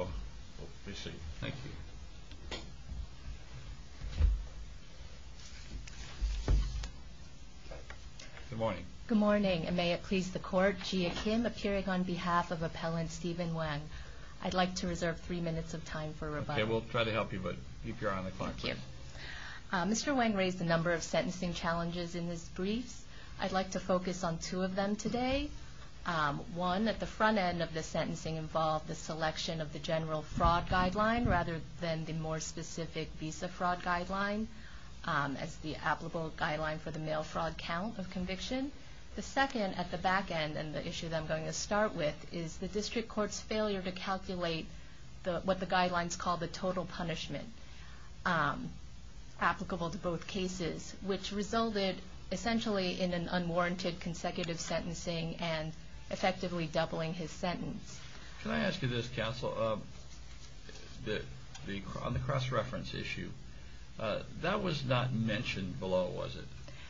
Good morning, and may it please the court, Jia Kim, appearing on behalf of Appellant Steven Wang. I'd like to reserve three minutes of time for rebuttal. Okay, we'll try to help you, but keep your eye on the clock, please. Thank you. Mr. Wang raised a number of sentencing challenges in his briefs. I'd like to focus on two of them today. One, at the front end of the sentencing involved the selection of the General Fraud Guideline, rather than the more specific Visa Fraud Guideline, as the applicable guideline for the mail fraud count of conviction. The second, at the back end, and the issue that I'm going to start with, is the District Court's failure to calculate what the guidelines call the total punishment applicable to both cases, which resulted essentially in an unwarranted consecutive sentencing and effectively doubling his sentence. Can I ask you this, Counsel? On the cross-reference issue, that was not mentioned below, was it?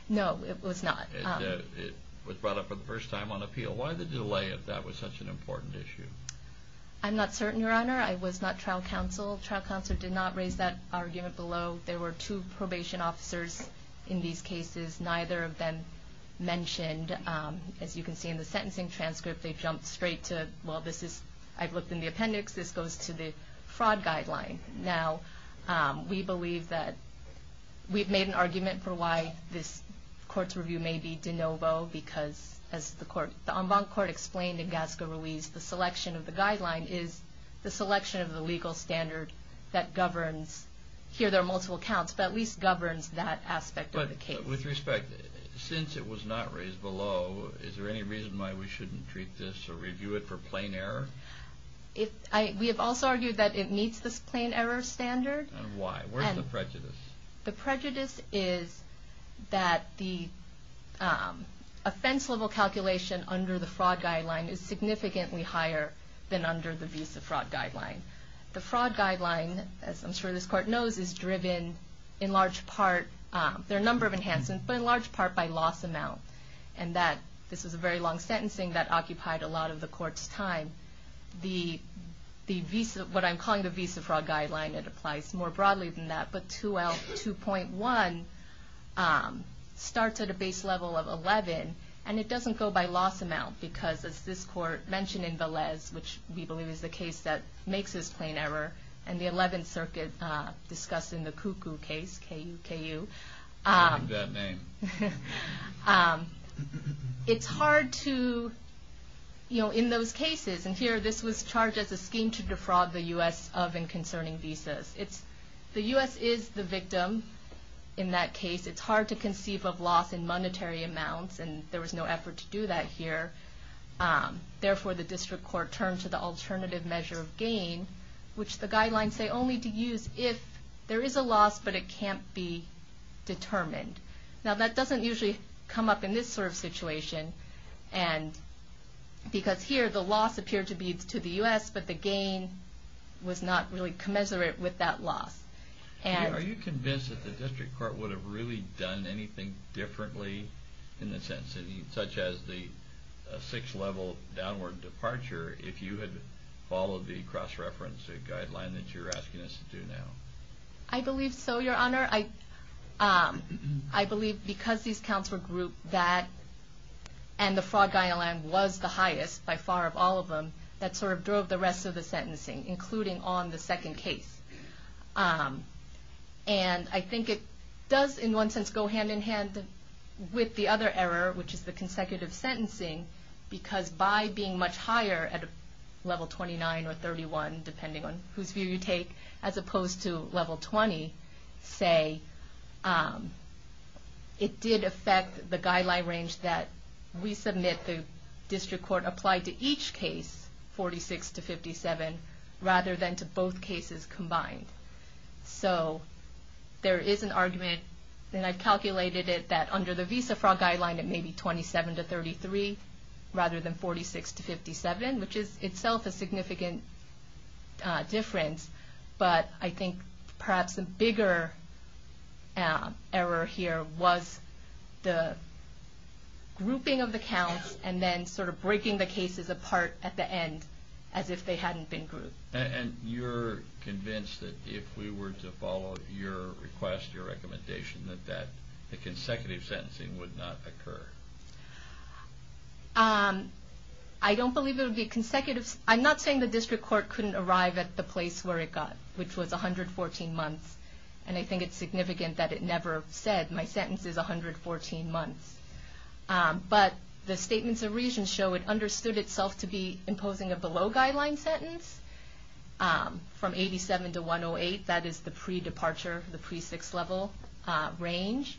No, it was not. It was brought up for the first time on appeal. Why the delay if that was such an important issue? I'm not certain, Your Honor. I was not trial counsel. Trial counsel did not raise that argument below. There were two probation officers in these cases. Neither of them mentioned, as you can see in the sentencing transcript, they've jumped straight to, well, this is, I've looked in the appendix, this goes to the fraud guideline. Now, we believe that, we've made an argument for why this court's review may be de novo, because, as the en banc court explained in Gasca Ruiz, the selection of the guideline is the selection of the legal standard that governs, here there are multiple counts, but at least governs that aspect of the case. With respect, since it was not raised below, is there any reason why we shouldn't treat this or review it for plain error? We have also argued that it meets this plain error standard. Why? Where's the prejudice? The prejudice is that the offense level calculation under the fraud guideline is significantly higher than under the visa fraud guideline. The fraud guideline, as I'm sure this court knows, is driven in large part, there are a number of enhancements, but in large part by loss amount. And that, this was a very long sentencing that occupied a lot of the court's time. The visa, what I'm calling the visa fraud guideline, it applies more broadly than that, but 2L2.1 starts at a base level of 11, and it doesn't go by loss amount, because as this court mentioned in Velez, which we believe is the case that makes this plain error, and the 11th circuit discussed in the Kuku case, K-U, K-U, it's hard to, in those cases, and here this was charged as a scheme to defraud the U.S. of and concerning visas. The U.S. is the victim in that case. It's hard to conceive of loss in monetary amounts, and there was no effort to do that here. Therefore, the district court turned to the alternative measure of gain, which the guidelines say only to use if there is a loss, but it can't be determined. Now, that doesn't usually come up in this sort of situation, and because here the loss appeared to be to the U.S., but the gain was not really commensurate with that loss. And... Are you convinced that the district court would have really done anything differently in the sentencing, such as the six-level downward departure, if you had followed the cross-reference guideline that you're asking us to do now? I believe so, Your Honor. I believe because these counts were grouped that, and the fraud guideline was the highest by far of all of them, that sort of drove the rest of the sentencing, including on the second case. And I think it does, in one sense, go hand-in-hand with the other error, which is the consecutive sentencing, because by being much higher at level 29 or 31, depending on whose view you take, as opposed to level 20, say, it did affect the guideline range that we submit, the district court applied to each case, 46 to 57, rather than to both cases combined. So there is an argument, and I've calculated it, that under the visa fraud guideline it may be 27 to 33, rather than 46 to 57, which is itself a significant difference. But I think perhaps a bigger error here was the grouping of the counts, and then sort of breaking the cases apart at the end, as if they hadn't been grouped. And you're convinced that if we were to follow your request, your recommendation, that the consecutive sentencing would not occur? I don't believe it would be consecutive. I'm not saying the district court couldn't arrive at the place where it got, which was 114 months, and I think it's significant that it never said, my sentence is 114 months. But the statements of reason show it understood itself to be imposing a below-guideline sentence, from 87 to 108, that is the pre-departure, the pre-six level range.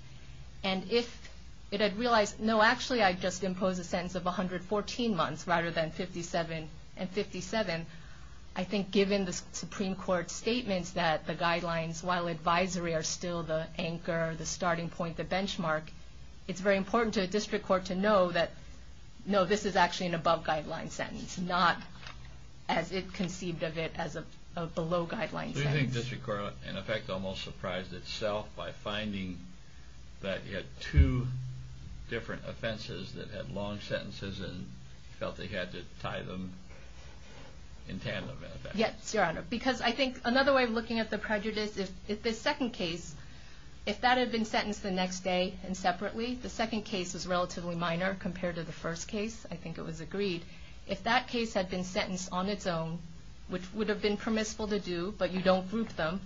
And if it had realized, no, actually I just imposed a sentence of 114 months, rather than 57 and 57, I think given the Supreme Court's statements that the guidelines, while advisory, are still the anchor, the starting point, the benchmark, it's very important to the district court to know that, no, this is actually an above-guideline sentence, not as it conceived of it, as a below-guideline sentence. Do you think district court, in effect, almost surprised itself by finding that it had two different offenses that had long sentences, and felt they had to tie them in tandem, in effect? Yes, Your Honor, because I think, another way of looking at the prejudice, if the second case, if that had been sentenced the next day, and separately, the second case is relatively minor compared to the first case, I think it was agreed, if that case had been sentenced on its own, which would have been permissible to do, but you don't group them,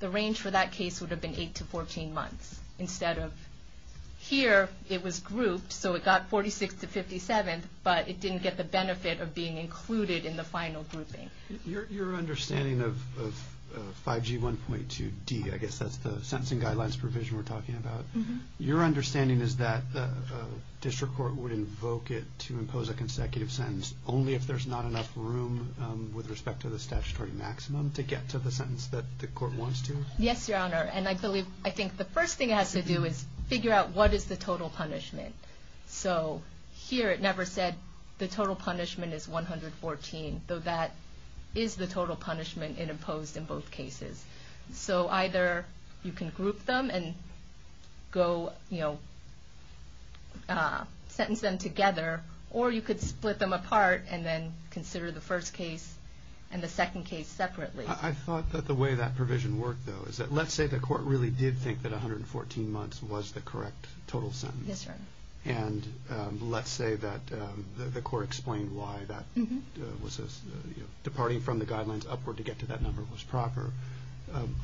the range for that case would have been eight to 14 months, instead of, here, it was grouped, so it got 46 to 57, but it didn't get the benefit of being included in the final grouping. Your understanding of 5G 1.2D, I guess that's the sentencing guidelines provision we're talking about, your understanding is that district court would invoke it to impose a consecutive sentence, only if there's not enough room, with respect to the statutory maximum, to get to the sentence that the court wants to? Yes, Your Honor, and I believe, I think the first thing it has to do is figure out what is the total punishment, so here, it never said the total punishment is 114, though that is the total punishment imposed in both cases, so either you can group them and go, you know, sentence them together, or you could split them apart, and then consider the first case and the second case separately. I thought that the way that provision worked, though, is that, let's say the court really did think that 114 months was the correct total sentence, and let's say that the court explained why that was, you know, departing from the guidelines upward to get to that number was proper.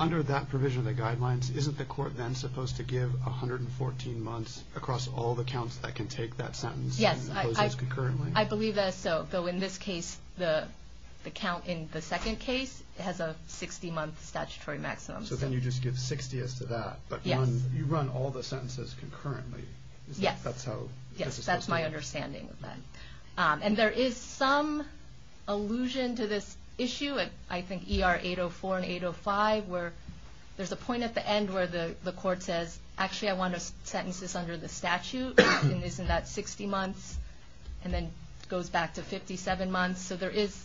Under that provision of the guidelines, isn't the court then supposed to give 114 months across all the counts that can take that sentence and impose it concurrently? Yes, I believe that, so, though in this case, the count in the second case has a 60-month statutory maximum. So then you just give 60 as to that, but you run all the sentences concurrently. Yes, that's my understanding of that, and there is some allusion to this issue, I think ER 804 and 805, where there's a point at the end where the court says, actually, I want to sentence this under the statute, and isn't that 60 months, and then goes back to 57 months, so there is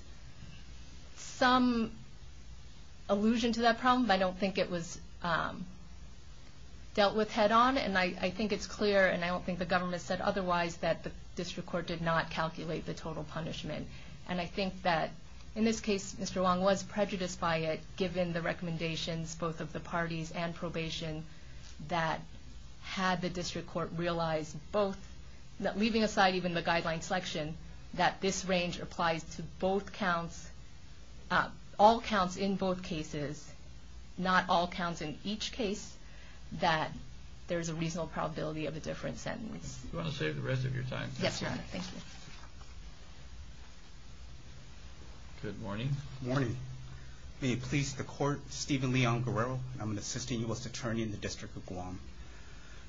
some allusion to that problem, but I don't think it was dealt with head-on, and I think it's clear, and I don't think the government said otherwise, that the district court did not calculate the total punishment, and I think that, in this case, Mr. Wong was prejudiced by it, given the recommendations, both of the parties and probation, that had the district court realized both, leaving aside even the guideline selection, that this range applies to both counts, all counts in both cases, not all counts in each case, that there is a reasonable probability of a different sentence. Do you want to save the rest of your time? Yes, Your Honor, thank you. Good morning. Good morning. May it please the court, Stephen Leon Guerrero, and I'm an assistant U.S. attorney in the District of Guam.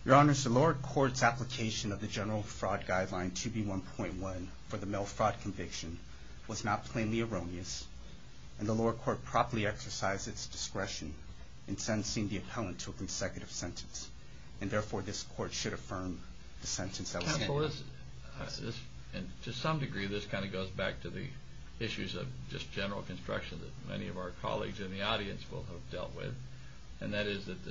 Your Honor, the lower court's application of the general fraud guideline 2B1.1 for the male fraud conviction was not plainly erroneous, and the lower court properly exercised its discretion in sentencing the appellant to a consecutive sentence, and therefore, this court should affirm the sentence that was given. Counsel, to some degree, this kind of goes back to the issues of just general construction that many of our colleagues in the audience will have dealt with, and that is that the 1B1.1C3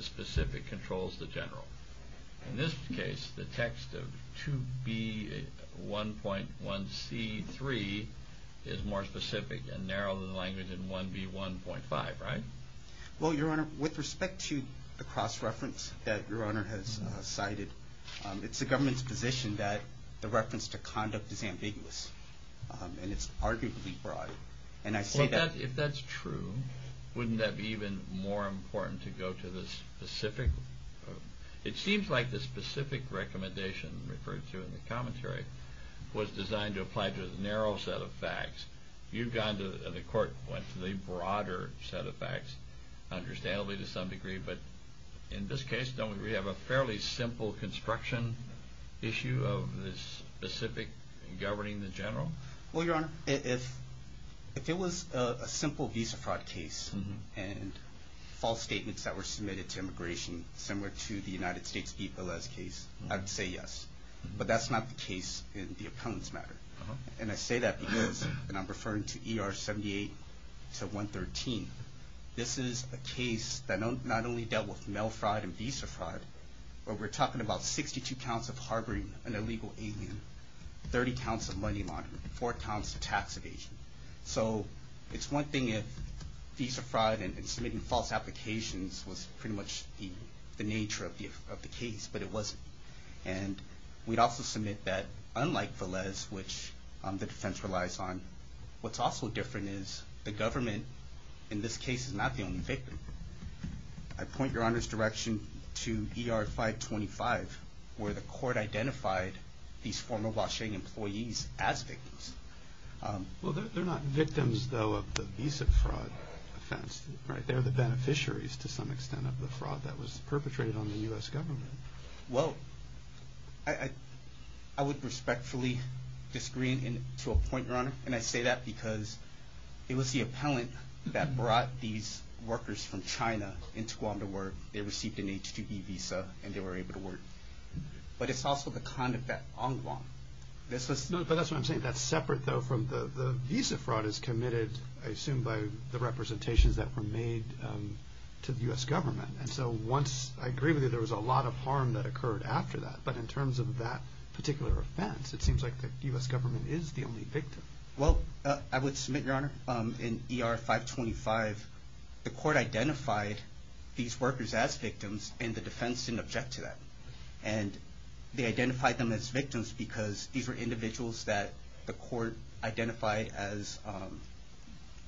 is more specific and narrower than the language in 1B1.5, right? Well, Your Honor, with respect to the cross-reference that Your Honor has cited, it's the government's position that the reference to conduct is ambiguous, and it's arguably broad, and I say that... Well, if that's true, wouldn't that be even more important to go to the specific... The commentary was designed to apply to a narrow set of facts. You've gone to... The court went to the broader set of facts, understandably, to some degree, but in this case, don't we have a fairly simple construction issue of the specific governing the general? Well, Your Honor, if it was a simple visa fraud case and false statements that were submitted to immigration, similar to the United States' Pete Velez case, I'd say yes. But that's not the case in the opponents' matter. And I say that because, and I'm referring to ER 78 to 113, this is a case that not only dealt with mail fraud and visa fraud, but we're talking about 62 counts of harboring an illegal alien, 30 counts of money laundering, four counts of tax evasion. So it's one thing if visa fraud and submitting false applications was pretty much the nature of the case, but it wasn't. And we'd also submit that, unlike Velez, which the defense relies on, what's also different is the government, in this case, is not the only victim. I point Your Honor's direction to ER 525, where the court identified these former Washington employees as victims. Well, they're not victims, though, of the visa fraud offense, right? They're the beneficiaries, to some extent, of the fraud that was perpetrated on the U.S. government. Well, I would respectfully disagree to a point, Your Honor, and I say that because it was the appellant that brought these workers from China into Guam to work. They received an H-2B visa, and they were able to work. But it's also the conduct at Onguam. But that's what I'm saying. That's separate, though, from the visa fraud is committed, I assume, by the representations that were made to the U.S. government. And so once, I agree with you, there was a lot of harm that occurred after that. But in terms of that particular offense, it seems like the U.S. government is the only victim. Well, I would submit, Your Honor, in ER 525, the court identified these workers as victims, and the defense didn't object to that. And they identified them as victims because these were individuals that the court identified as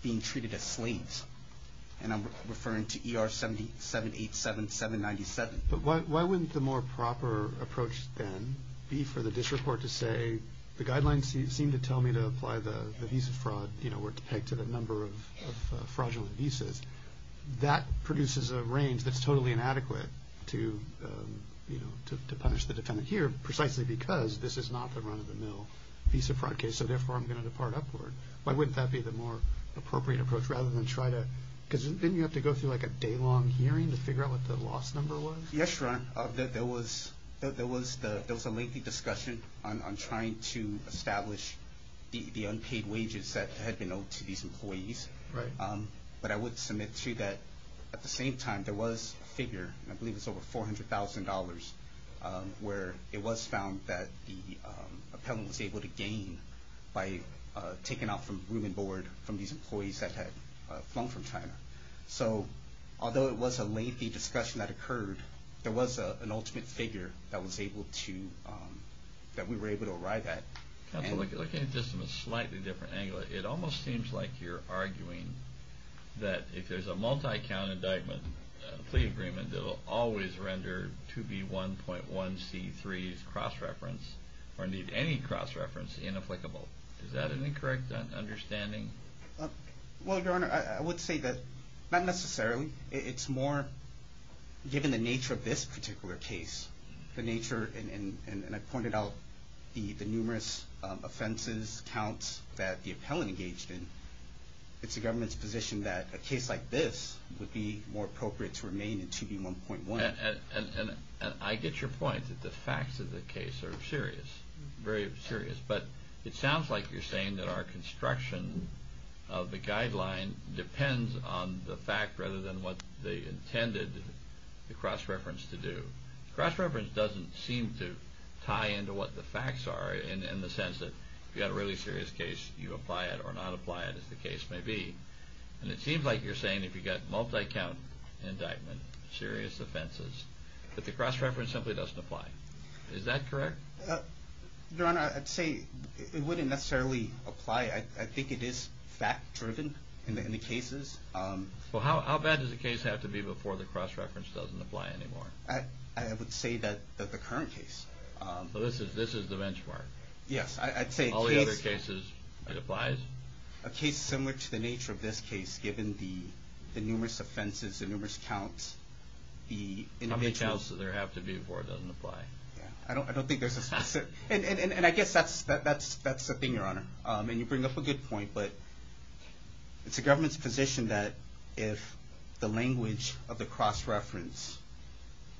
being treated as slaves. And I'm referring to ER 787-797. But why wouldn't the more proper approach, then, be for the district court to say, the guidelines seem to tell me to apply the visa fraud where it's pegged to the number of fraudulent to punish the defendant here, precisely because this is not the run-of-the-mill visa fraud case. So therefore, I'm going to depart upward. Why wouldn't that be the more appropriate approach, rather than try to, because didn't you have to go through a day-long hearing to figure out what the loss number was? Yes, Your Honor. There was a lengthy discussion on trying to establish the unpaid wages that had been owed to these employees. But I would submit, too, that at the same time, there was a figure, and I believe it's over $400,000, where it was found that the appellant was able to gain by taking out from room and board from these employees that had flown from China. So, although it was a lengthy discussion that occurred, there was an ultimate figure that was able to, that we were able to arrive at. Counsel, looking at this from a slightly different angle, it almost seems like you're arguing that if there's a multi-count indictment plea agreement, it'll always render 2B1.1C3's cross-reference, or need any cross-reference, inapplicable. Is that an incorrect understanding? Well, Your Honor, I would say that, not necessarily. It's more, given the nature of this particular case, the nature, and I pointed out the numerous offenses, counts, that the appellant engaged in, it's the government's position that a case like this would be more appropriate to remain in 2B1.1. And I get your point, that the facts of the case are serious, very serious. But it sounds like you're saying that our construction of the guideline depends on the fact rather than what they intended the cross-reference to do. Cross-reference doesn't seem to tie into what the facts are, in the sense that if you've got a really serious case, you apply it or not apply it, as the case may be. And it seems like you're saying if you've got multi-count indictment, serious offenses, that the cross-reference simply doesn't apply. Is that correct? Your Honor, I'd say it wouldn't necessarily apply. I think it is fact-driven in the cases. Well, how bad does the case have to be before the cross-reference doesn't apply anymore? I would say that the current case... So this is the benchmark? Yes, I'd say a case... All the other cases, it applies? A case similar to the nature of this case, given the numerous offenses, the numerous counts, the individual... How many counts does there have to be before it doesn't apply? I don't think there's a specific... And I guess that's the thing, Your Honor. And you bring up a good point, but it's the government's position that if the language of the cross-reference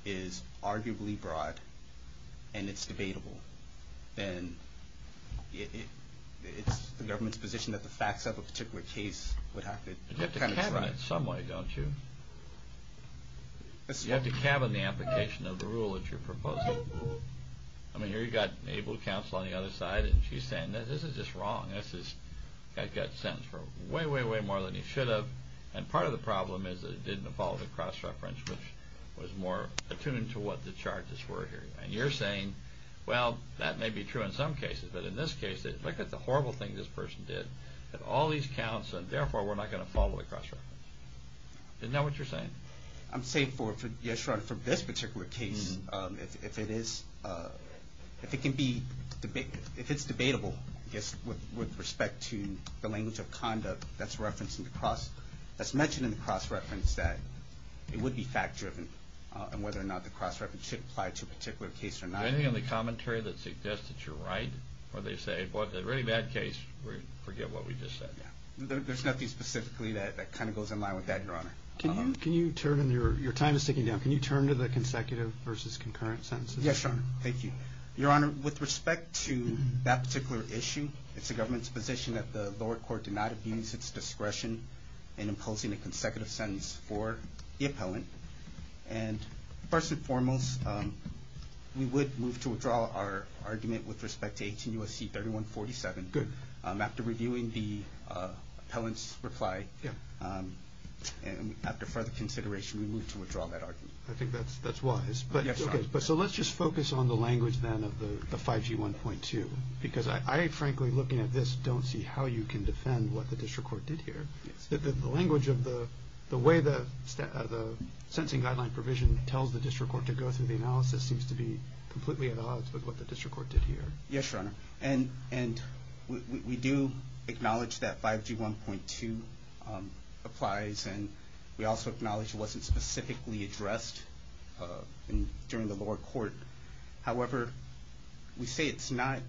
is arguably broad and it's debatable, then it's the government's position that the facts of a particular case would have to... You have to cabin it some way, don't you? You have to cabin the application of the rule that you're proposing. I mean, here you've got Abel Counsel on the other side, and she's saying, this is just wrong. This guy's got sentenced for way, way, way more than he should have. And part of the problem is that it didn't follow the cross-reference, which was more attuned to what the charges were here. And you're saying, well, that may be true in some cases, but in this case, look at the horrible thing this person did. All these counts, and therefore, we're not going to follow the cross-reference. Isn't that what you're saying? I'm saying, Your Honor, for this particular case, if it is... If it can be... If it's debatable, I guess, with respect to the language of conduct that's referenced in the cross... That's mentioned in the cross-reference, that it would be fact-driven, and whether or not the cross-reference should apply to a particular case or not. Anything on the commentary that suggests that you're right? Or they say, well, if it's a really bad case, forget what we just said. There's nothing specifically that kind of goes in line with that, Your Honor. Can you turn... Your time is ticking down. Can you turn to the consecutive versus concurrent sentences? Yes, Your Honor. Thank you. Your Honor, with respect to that particular issue, it's the government's position that the lower court did not abuse its discretion in imposing a consecutive sentence for the appellant. And first and foremost, we would move to withdraw our argument with respect to 18 U.S.C. 3147. Good. After reviewing the appellant's reply, and after further consideration, we move to withdraw that argument. I think that's wise. Yes, Your Honor. So let's just focus on the language, then, of the 5G 1.2. Because I, frankly, looking at this, don't see how you can defend what the district court did here. Yes. The language of the way the sentencing guideline provision tells the district court to go through the analysis seems to be completely at odds with what the district court did here. Yes, Your Honor. And we do acknowledge that 5G 1.2 applies, and we also acknowledge it wasn't specifically addressed during the lower court. However, we say it's not,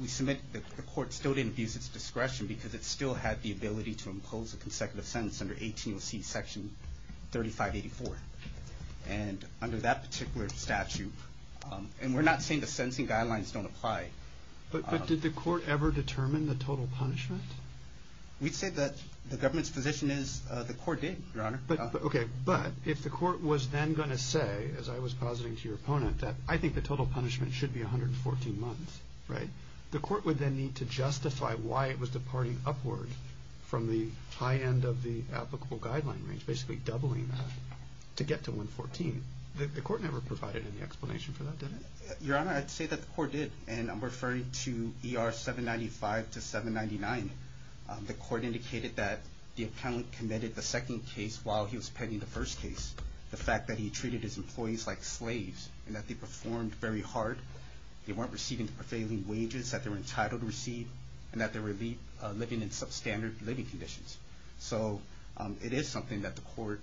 we submit that the court still didn't abuse its discretion because it still had the ability to impose a consecutive sentence under 18 U.S.C. Section 3584. And under that particular statute, and we're not saying the sentencing guidelines don't apply. But did the court ever determine the total punishment? We'd say that the government's position is the court did, Your Honor. Okay. But if the court was then going to say, as I was positing to your opponent, that I think the total punishment should be 114 months, right? The court would then need to justify why it was departing upward from the high end of the applicable guideline range, basically doubling that to get to 114. The court never provided any explanation for that, did it? Your Honor, I'd say that the court did. And I'm referring to ER 795 to 799. The court indicated that the appellant committed the second case while he was pending the first case. The fact that he treated his employees like slaves and that they performed very hard, they weren't receiving the prevailing wages that they were entitled to receive, and that they were living in substandard living conditions. So it is something that the court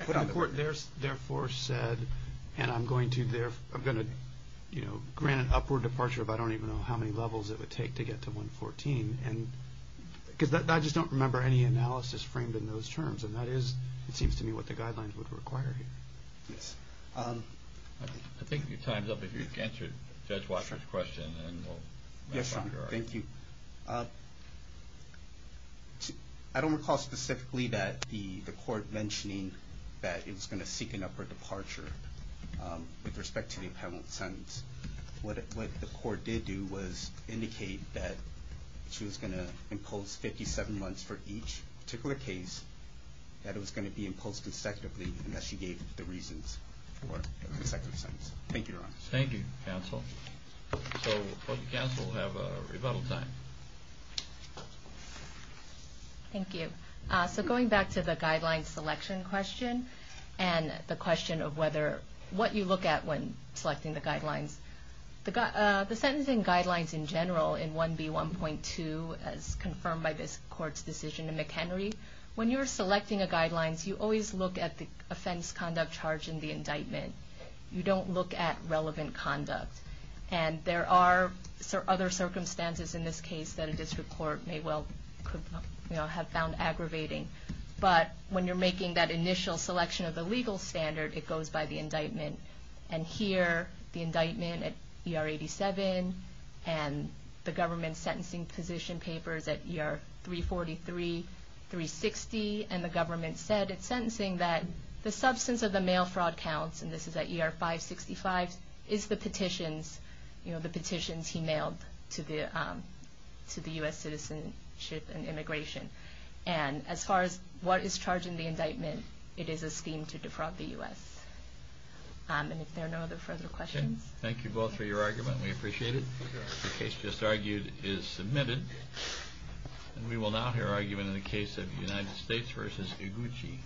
put on the record. And the court therefore said, and I'm going to grant an upward departure of I don't even know how many levels it would take to get to 114. Because I just don't remember any analysis framed in those terms. And that is, it seems to me, what the guidelines would require here. Yes. I think your time's up. If you can answer Judge Washer's question, then we'll move on. Yes, Your Honor. Thank you. I don't recall specifically that the court mentioning that it was going to seek an upward departure with respect to the appellant's sentence. What the court did do was indicate that she was going to impose 57 months for each particular case, that it was going to be imposed consecutively, and that she gave the reasons for consecutive sentences. Thank you, Your Honor. Thank you, counsel. So both counsel have a rebuttal time. Thank you. So going back to the guideline selection question and the question of what you look at when selecting the guidelines. The sentencing guidelines in general in 1B1.2 as confirmed by this court's decision in McHenry, when you're selecting a guidelines, you always look at the offense conduct charge in the indictment. You don't look at relevant conduct. And there are other circumstances in this case that a district court may well have found aggravating. But when you're making that initial selection of the legal standard, it goes by the indictment. And here, the indictment at ER 87 and the government sentencing position papers at ER 343, 360, and the government said at sentencing that the substance of the mail fraud counts, and this is at ER 565, is the petitions, you know, the petitions he mailed to the U.S. citizenship and immigration. And as far as what is charged in the indictment, it is a scheme to defraud the U.S. And if there are no other further questions. Thank you both for your argument. We appreciate it. The case just argued is submitted. And we will now hear argument in the case of United States v. Iguchi.